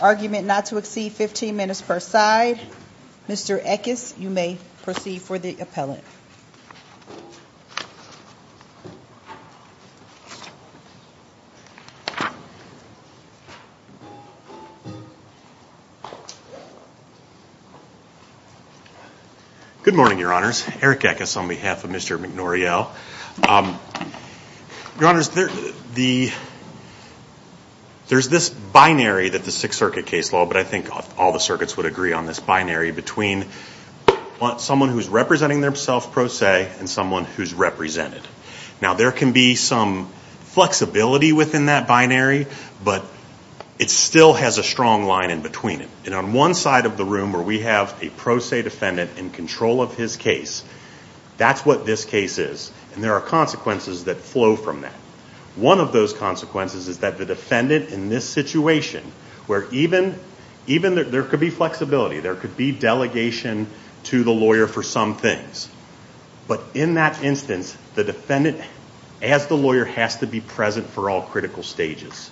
Argument not to exceed 15 minutes per side. Mr. Eckes, you may proceed for the appellant. Good morning, Your Honors. Eric Eckes on behalf of Mr. McNoriell. Your Honors, there's this binary that the Sixth Circuit case law, but I think all the circuits would agree on this binary between someone who's representing themself pro se and someone who's represented. Now there can be some flexibility within that binary, but it still has a strong line in between it. And on one side of the room where we have a pro se defendant in control of his case, that's what this case is. And there are consequences that flow from that. One of those consequences is that the defendant in this situation, where even there could be flexibility, there could be delegation to the lawyer for some things. But in that instance, the defendant, as the lawyer, has to be present for all critical stages.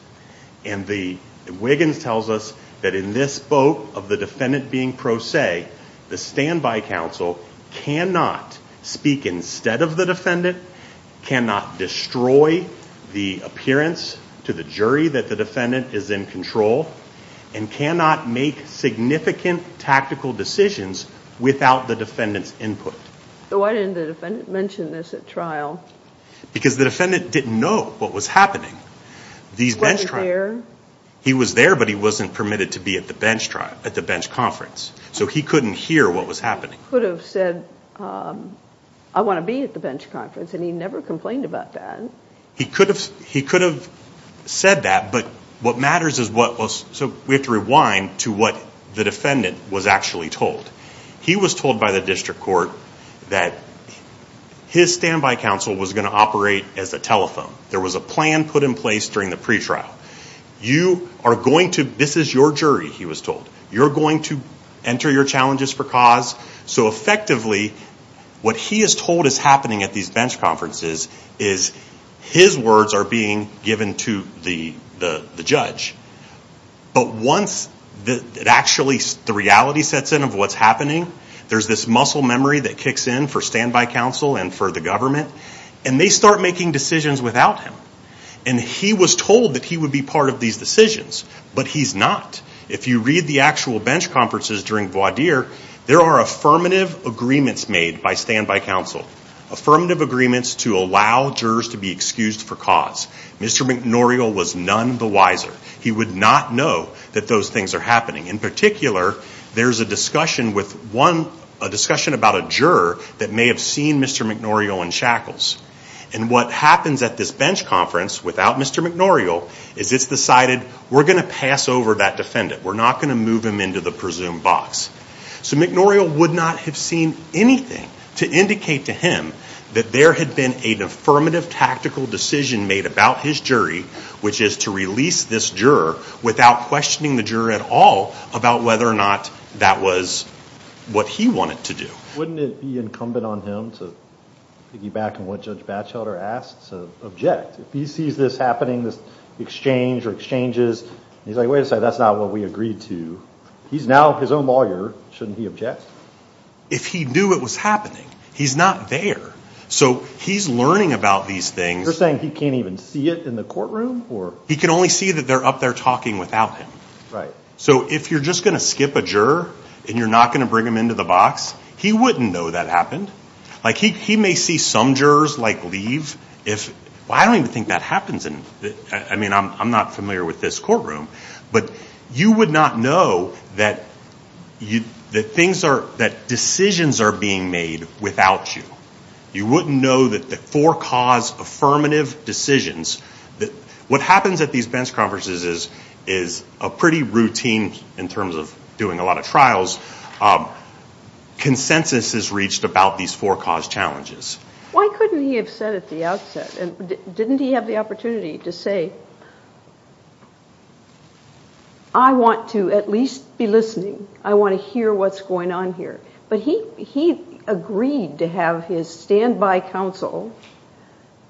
And the Wiggins tells us that in this boat of the defendant being pro se, the standby counsel cannot speak instead of the defendant, cannot destroy the appearance to the jury that the defendant is in control, and cannot make significant tactical decisions without the defendant's input. So why didn't the defendant mention this at trial? Because the defendant didn't know what was happening. He wasn't there. He was there, but he wasn't permitted to be at the bench conference. So he couldn't hear what was happening. He could have said, I want to be at the bench conference, and he never complained about that. He could have said that, but what matters is what was... So we have to rewind to what the defendant was actually told. He was told by the district court that his standby counsel was going to operate as a telephone. There was a plan put in place during the pretrial. You are going to... This is your jury, he was told. You're going to enter your challenges for cause. So effectively, what he is told is happening at these bench conferences is his words are being given to the judge. But once it actually, the reality sets in of what's happening, there's this muscle memory that kicks in for standby counsel and for the government, and they start making decisions without him. And he was told that he would be part of these decisions, but he's not. If you read the actual bench conferences during voir dire, there are affirmative agreements made by standby counsel. Affirmative agreements to allow jurors to be excused for cause. Mr. McNoriel was none the wiser. He would not know that those things are happening. In particular, there's a discussion with one... A discussion about a juror that may have seen Mr. McNoriel in shackles. And what happens at this bench conference without Mr. McNoriel is it's decided we're going to pass over that defendant. We're not going to move him into the presumed box. So McNoriel would not have seen anything to indicate to him that there had been an affirmative tactical decision made about his jury, which is to release this juror without questioning the juror at all about whether or not that was what he wanted to do. Wouldn't it be incumbent on him to piggyback on what Judge Batchelder asked, to object? If he sees this happening, this exchange or exchanges, he's like, wait a second, that's not what we agreed to. He's now his own lawyer. Shouldn't he object? If he knew it was happening, he's not there. So he's learning about these things. You're saying he can't even see it in the courtroom? He can only see that they're up there talking without him. So if you're just going to skip a juror and you're not going to bring him into the box, he wouldn't know that happened. He may see some jurors leave. I don't even think that happens. I mean, I'm not familiar with this courtroom. But you would not know that decisions are being made without you. You wouldn't know that the four cause affirmative decisions, that what happens at these bench conferences is a pretty routine, in terms of doing a lot of trials, consensus is reached about these four cause challenges. Why couldn't he have said at the outset, didn't he have the opportunity to say, I want to at least be listening. I want to hear what's going on here. But he agreed to have his standby counsel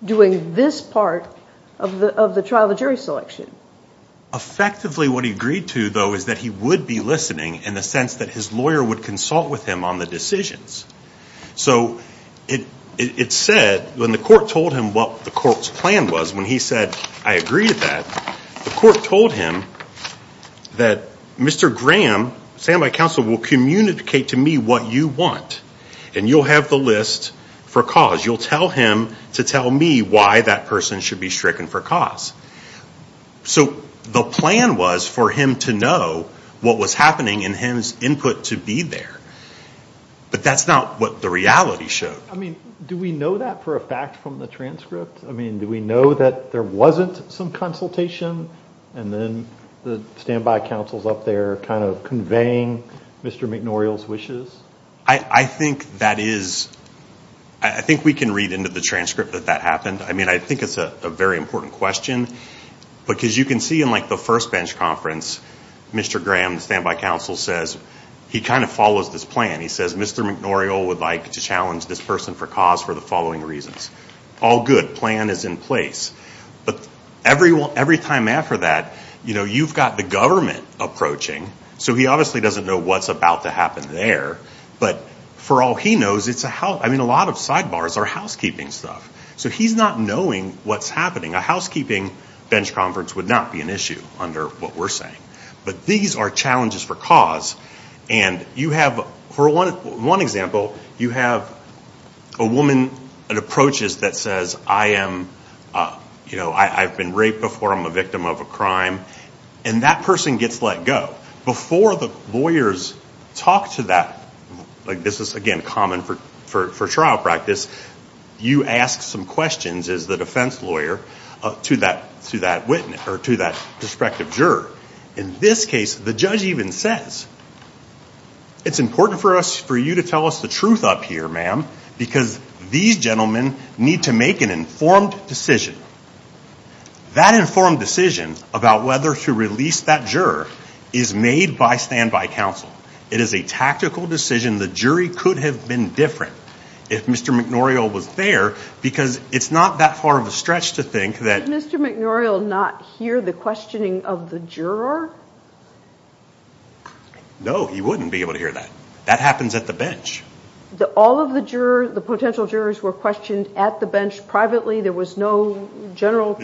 doing this part of the trial, the jury selection. Effectively what he agreed to, though, is that he would be listening in the sense that his lawyer would consult with him on the decisions. So it said, when the court told him what the court's plan was, when he said, I agree with that, the court told him that Mr. Graham, standby counsel, will communicate to me what you want. And you'll have the list for cause. You'll tell him to tell me why that person should be stricken for cause. So the plan was for him to know what was happening and his input to be there. But that's not what the reality showed. I mean, do we know that for a fact from the transcript? I mean, do we know that there wasn't some consultation? And then the standby counsel's up there kind of conveying Mr. McNoriel's I think that is, I think we can read into the transcript that that happened. I mean, I think it's a very important question. Because you can see in like the first bench conference, Mr. Graham, standby counsel, says, he kind of follows this plan. He says, Mr. McNoriel would like to challenge this person for cause for the following reasons. All good. Plan is in place. But every time after that, you know, you've got the government approaching. So he obviously doesn't know what's about to happen there. But for all he knows, it's I mean, a lot of sidebars are housekeeping stuff. So he's not knowing what's happening. A housekeeping bench conference would not be an issue under what we're saying. But these are challenges for cause. And you have, for one example, you have a woman that approaches that says, I am, you know, I've been raped before. I'm a victim of a crime. And that person gets let go. Before the lawyers talk to that, like this is, again, common for trial practice, you ask some questions as the defense lawyer to that witness or to that prospective juror. In this case, the judge even says, it's important for us, for you to tell us the truth up here, ma'am, because these gentlemen need to make an informed decision. That informed decision about whether to release that juror is made by standby counsel. It is a tactical decision. The jury could have been different if Mr. McNoriel was there, because it's not that far of a stretch to think that Did Mr. McNoriel not hear the questioning of the juror? No, he wouldn't be able to hear that. That happens at the bench. All of the jurors, the potential jurors were questioned at the bench privately. There was no general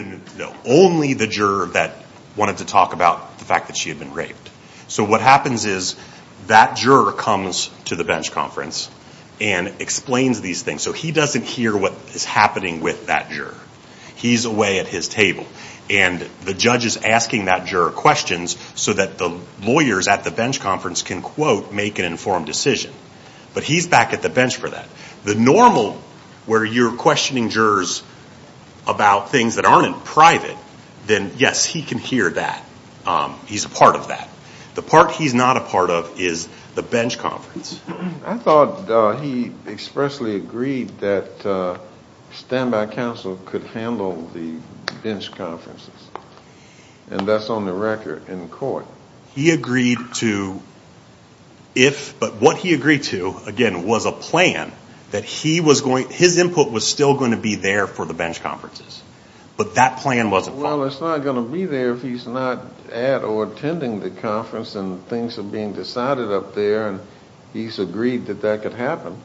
Only the juror that wanted to talk about the fact that she had been raped. So what happens is that juror comes to the bench conference and explains these things. So he doesn't hear what is happening with that juror. He's away at his table. And the judge is asking that juror questions so that the lawyers at the bench conference can, quote, make an informed decision. But he's back at the bench for that. The normal, where you're questioning jurors about things that aren't in private, then yes, he can hear that. He's a part of that. The part he's not a part of is the bench conference. I thought he expressly agreed that standby counsel could handle the bench conferences. And that's on the record in court. He agreed to if, but what he agreed to, again, was a plan that he was going, his input was still going to be there for the bench conferences. But that plan wasn't followed. Well, it's not going to be there if he's not at or attending the conference and things are being decided up there and he's agreed that that could happen.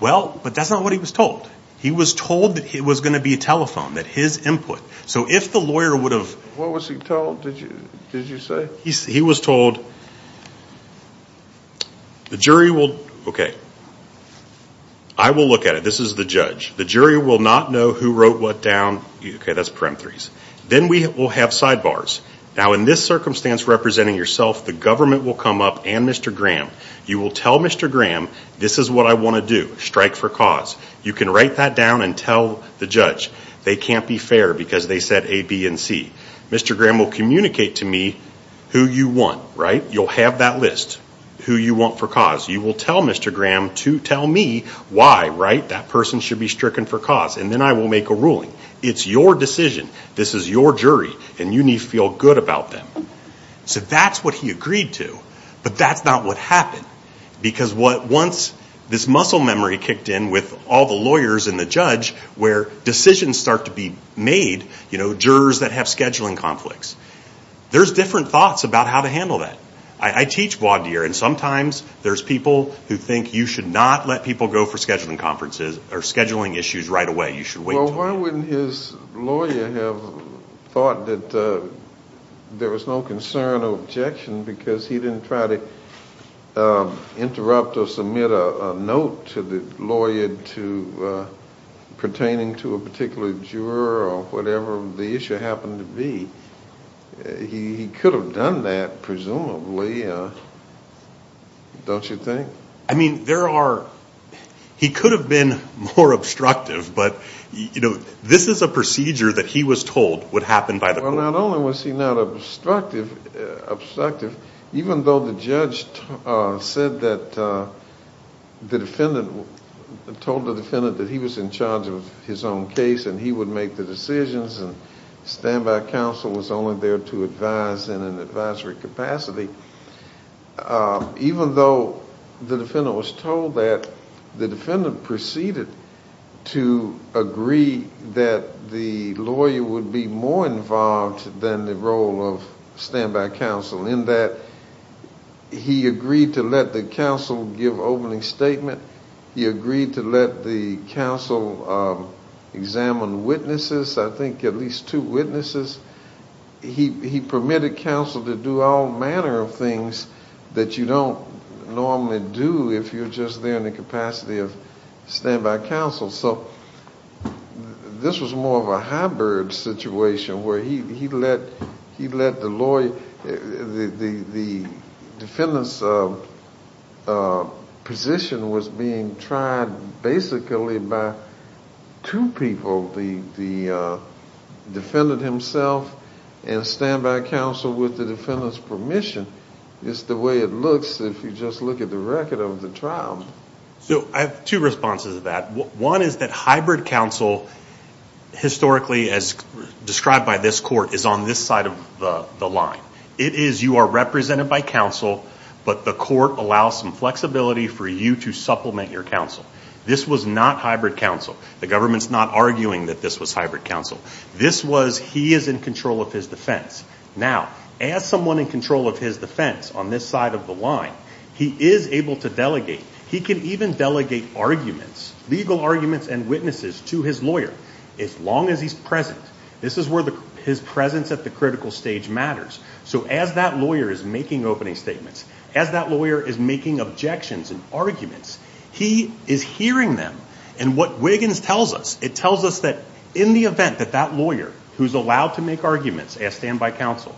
Well, but that's not what he was told. He was told that it was going to be a telephone, that his input. So if the lawyer would have What was he told, did you say? He was told, the jury will, okay, I will look at it. This is the judge. The jury will not know who wrote what down. Okay, that's peremptories. Then we will have sidebars. Now in this circumstance representing yourself, the government will come up and Mr. Graham. You will tell Mr. Graham, this is what I want to do, strike for cause. You can write that down and tell the judge. They can't be fair because they said A, B, and C. Mr. Graham will communicate to me who you want, right? You'll have that list, who you want for cause. You will tell Mr. Graham to tell me why, right? That person should be stricken for cause. And then I will make a ruling. It's your decision. This is your jury and you need to feel good about them. So that's what he agreed to. But that's not what happened. Because what once this muscle memory kicked in with all the lawyers and the judge where decisions start to be made, you know, jurors that have scheduling conflicts. There's different thoughts about how to handle that. I teach voir dire and sometimes there's people who think you should not let people go for scheduling conferences or scheduling issues right away. You should wait. Well, why wouldn't his lawyer have thought that there was no concern or objection because he didn't try to interrupt or submit a note to the lawyer pertaining to a particular juror or whatever the issue happened to be. He could have done that, presumably, don't you think? I mean, there are, he could have been more obstructive, but you know, this is a procedure that he was told would happen by the court. Well, not only was he not obstructive, even though the judge said that the defendant, told the defendant that he was in charge of his own case and he would make the decisions and standby counsel was only there to advise in an advisory capacity, even though the defendant was told that, the defendant proceeded to agree that the lawyer would be more involved than the role of standby counsel in that he agreed to let the counsel give opening statement he agreed to let the counsel examine witnesses, I think at least two witnesses. He permitted counsel to do all manner of things that you don't normally do if you're just there in the capacity of standby counsel. So this was more of a hybrid situation where he let the the defendant's position was being tried basically by two people, the defendant himself and standby counsel with the defendant's permission. It's the way it looks if you just look at the record of the trial. So I have two responses to that. One is that hybrid counsel historically, as described by this court, is on this side of the line. It is you are represented by counsel, but the court allows some flexibility for you to supplement your counsel. This was not hybrid counsel. The government's not arguing that this was hybrid counsel. This was he is in control of his defense. Now, as someone in control of his defense on this side of the line, he is able to delegate. He can even delegate arguments, legal arguments and witnesses to his lawyer, as long as he's present. This is where his presence at the critical stage matters. So as that lawyer is making opening statements, as that lawyer is making objections and arguments, he is hearing them. And what Wiggins tells us, it tells us that in the event that that lawyer, who's allowed to make arguments as standby counsel,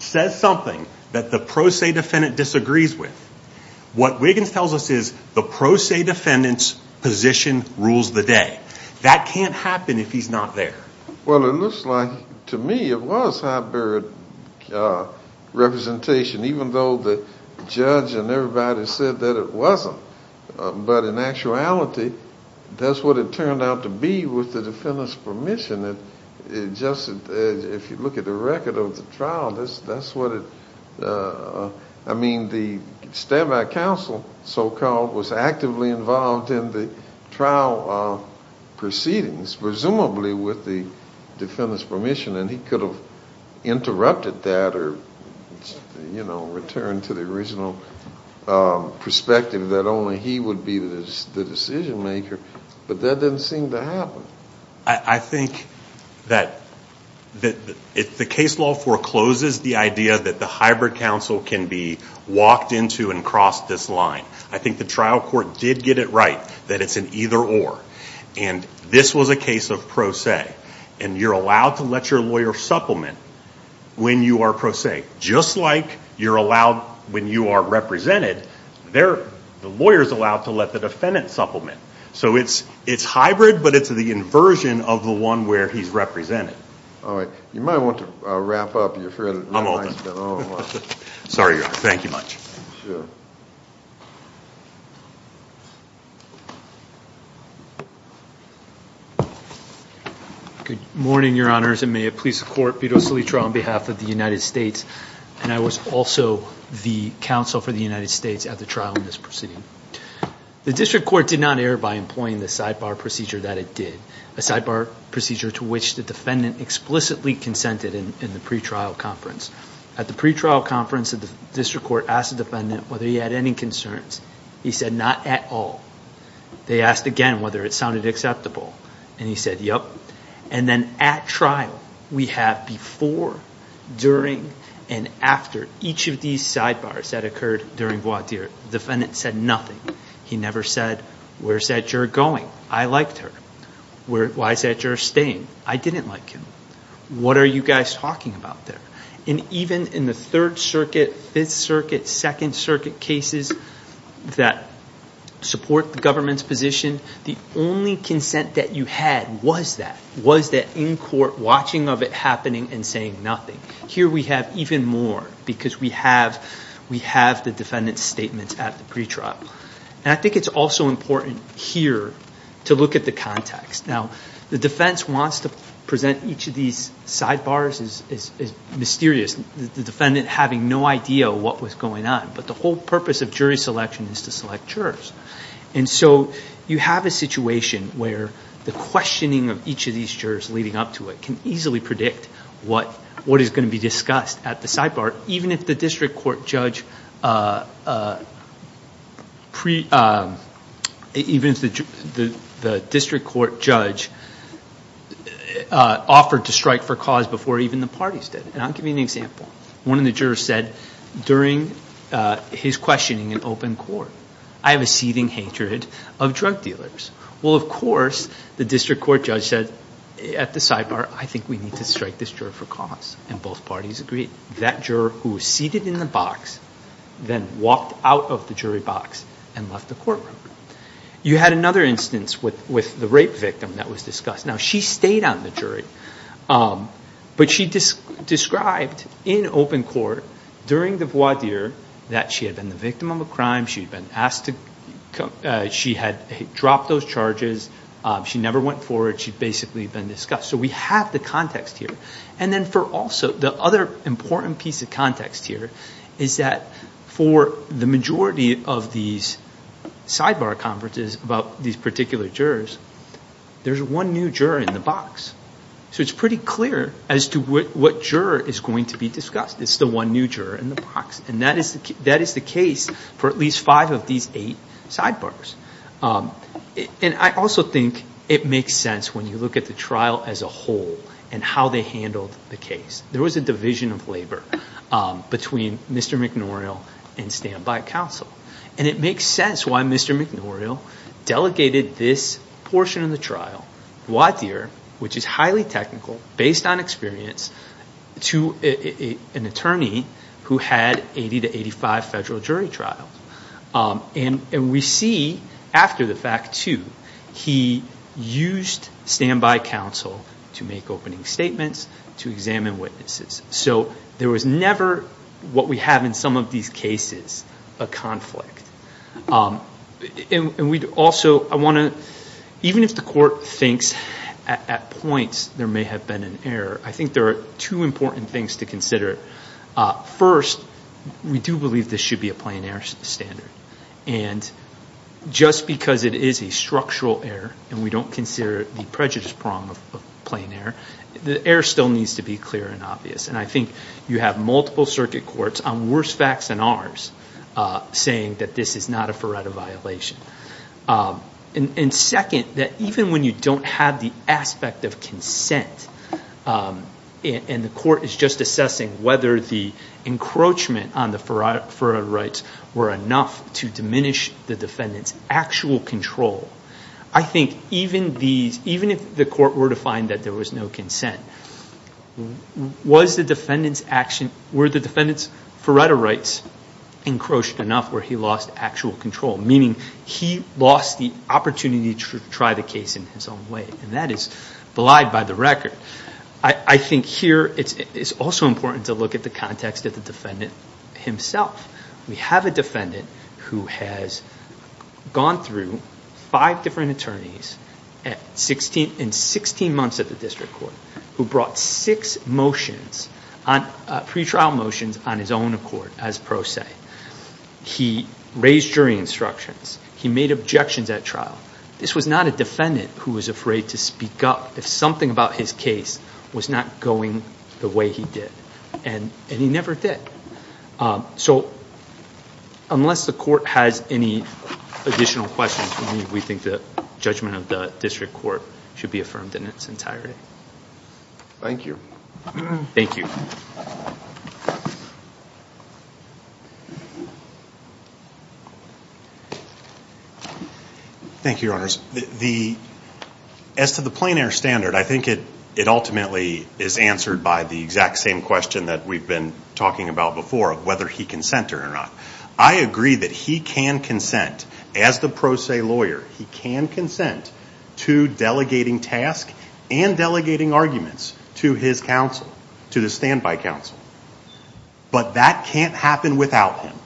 says something that the pro se defendant disagrees with, what Wiggins tells us is the pro se defendant's position rules the day. That can't happen if he's not there. Well, it looks like to me it was hybrid representation, even though the judge and everybody said that it wasn't. But in actuality, that's what it turned out to be with the defendant's permission. If you look at the record of the trial, that's what it, I mean, the standby counsel, so-called, was actively involved in the trial proceedings, presumably with the defendant's permission. And he could have interrupted that or, you know, returned to the original perspective that only he would be the decision maker. But that didn't seem to happen. I think that the case law forecloses the idea that the hybrid counsel can be walked into and cross this line. I think the trial court did get it right, that it's an either or. And this was a case of pro se. And you're allowed to let your lawyer supplement when you are pro se, just like you're allowed when you are represented, the lawyer's allowed to let the defendant supplement. So it's hybrid, but it's the inversion of the one where he's represented. All right. You might want to wrap up. You're fairly late. Sorry, Your Honor. Thank you much. Good morning, Your Honors, and may it please the Court, Beto Salitra on behalf of the United States. And I was also the counsel for the United States at the trial in this proceeding. The district court did not err by employing the sidebar procedure that it did, a sidebar procedure to which the defendant explicitly consented in the pretrial conference. At the pretrial conference, the district court asked the defendant whether he had any concerns. He said, not at all. They asked again whether it sounded acceptable. And he said, yep. And then at trial, we have before, during, and after each of these sidebars that occurred during voir dire. The defendant said nothing. He never said, where's that juror going? I liked her. Why is that juror staying? I didn't like him. What are you guys talking about there? And even in the Third Circuit, Fifth Circuit, Second Circuit cases that support the government's position, the only consent that you had was that, was that in court watching of it happening and saying nothing. Here we have even more because we have the defendant's statement at the pretrial. And I think it's also important here to look at the context. Now, the defense wants to present each of these sidebars as mysterious. The defendant having no idea what was going on. But the whole purpose of jury selection is to select jurors. And so you have a situation where the questioning of each of these jurors leading up to it can easily predict what is going to be discussed at the sidebar, even if the district court judge pre, even if the district court judge pre-judges the sidebars. The district court judge offered to strike for cause before even the parties did. And I'll give you an example. One of the jurors said during his questioning in open court, I have a seething hatred of drug dealers. Well, of course, the district court judge said at the sidebar, I think we need to strike this juror for cause. And both parties agreed. That juror who was seated in the box then walked out of the jury box and left the courtroom. You had another instance with the rape victim that was discussed. Now, she stayed on the jury. But she described in open court during the voir dire that she had been the victim of a crime. She had been asked to, she had dropped those charges. She never went forward. She'd basically been discussed. So we have the context here. And then for also, the other important piece of context here is that for the majority of these sidebar conferences about these particular jurors, there's one new juror in the box. So it's pretty clear as to what juror is going to be discussed. It's the one new juror in the box. And that is the case for at least five of these eight sidebars. And I also think it makes sense when you look at the trial as a whole and how they handled the case. There was a division of labor between Mr. McNourial and standby counsel. And it makes sense why Mr. McNourial delegated this portion of the trial, voir dire, which is highly technical, based on experience, to an attorney who had 80 to 85 federal jury trials. And we see after the fact, too, he used standby counsel to make opening statements, to examine witnesses. So there was never what we have in some of these cases, a conflict. Even if the court thinks at points there may have been an error, I think there are two important things to consider. First, we do believe this should be a plain error standard. And just because it is a structural error and we don't consider it the prejudice prong of plain error, the error still needs to be clear and obvious. And I think you have multiple circuit courts on worse facts than ours saying that this is not a FERRETA violation. And second, that even when you don't have the aspect of consent, and the court is just assessing whether the encroachment on the FERRETA rights were enough to diminish the defendant's actual control, I think even if the court were to find that there was no consent, were the defendant's FERRETA rights encroached enough where he lost actual control, meaning he lost the opportunity to try the case in his own way. And that is belied by the record. I think here it's also important to look at the context of the defendant himself. We have a defendant who has gone through five different attorneys in 16 months at the district court who brought six motions, pre-trial motions, on his own accord as pro se. He raised jury instructions. He made objections at trial. This was not a defendant who was afraid to speak up if something about his case was not going the way he did. And he never did. So, unless the court has any additional questions, we think the judgment of the district court should be affirmed in its entirety. Thank you. Thank you. Thank you, Your Honors. As to the plein air standard, I think it ultimately is answered by the exact same question that we've been talking about before, whether he consented or not. I agree that he can consent, as the pro se lawyer, he can consent to delegating task and delegating arguments to his counsel, to the standby counsel. But that can't happen without him.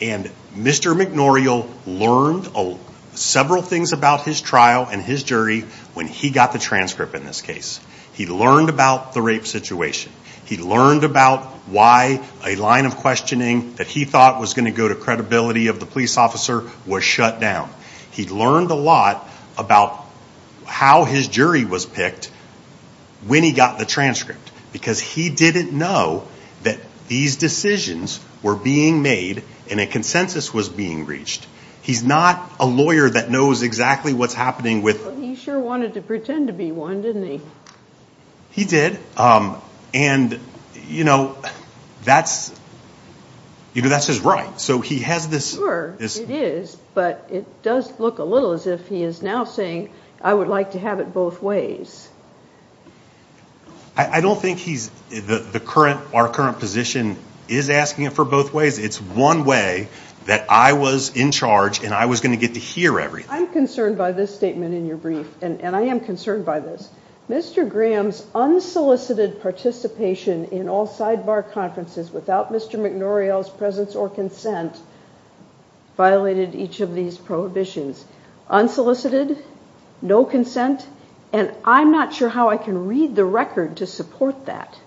And Mr. McNorial learned several things about his trial and his jury when he got the transcript in this case. He learned about the rape situation. He learned about why a line of questioning that he thought was going to go to credibility of the police officer was shut down. He learned a lot about how his jury was picked when he got the transcript because he didn't know that these decisions were being made and a consensus was being reached. He's not a lawyer that knows exactly what's happening with... He sure wanted to pretend to be one, didn't he? He did. And, you know, that's, you know, that's his right. So he has this... Sure, it is. But it does look a little as if he is now saying, I would like to have it both ways. I don't think he's, the current, our current position is asking it for both ways. It's one way that I was in charge and I was going to get to hear everything. I'm concerned by this statement in your brief and I am concerned by this. Mr. Graham's unsolicited participation in all sidebar conferences without Mr. McNorriell's presence or consent violated each of these prohibitions. Unsolicited, no consent, and I'm not sure how I can read the record to support that.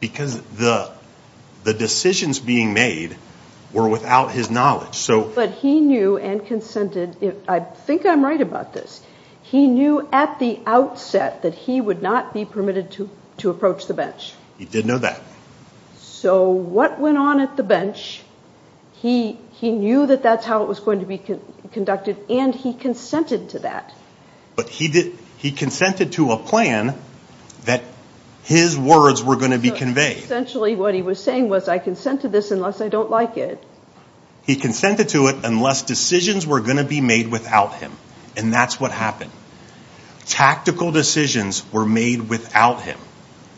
Because the decisions being made were without his knowledge, so... But he knew and consented, I think I'm right about this, he knew at the outset that he would not be permitted to approach the bench. He did know that. So what went on at the bench, he knew that that's how it was going to be conducted and he consented to that. But he did, he consented to a plan that his words were going to be conveyed. Essentially what he was saying was, I consent to this unless I don't like it. He consented to it unless decisions were going to be made without him. And that's what happened. Tactical decisions were made without him.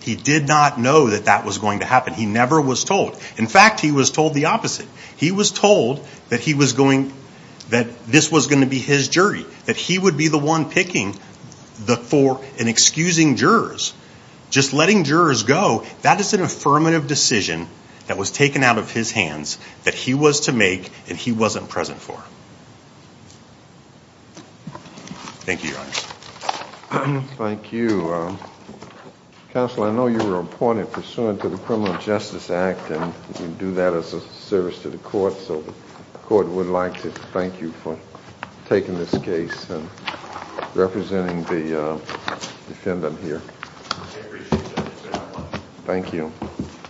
He did not know that that was going to happen. He never was told. In fact, he was told the opposite. He was told that he was going, that this was going to be his jury, that he would be the one picking and excusing jurors. Just letting jurors go, that is an affirmative decision that was taken out of his hands, that he was to make, and he wasn't present for. Thank you, Your Honor. Thank you. Counsel, I know you were appointed pursuant to the Criminal Justice Act and you do that as a service to the court, so the court would like to thank you for taking this case and representing the defendant here. Thank you. Thank you.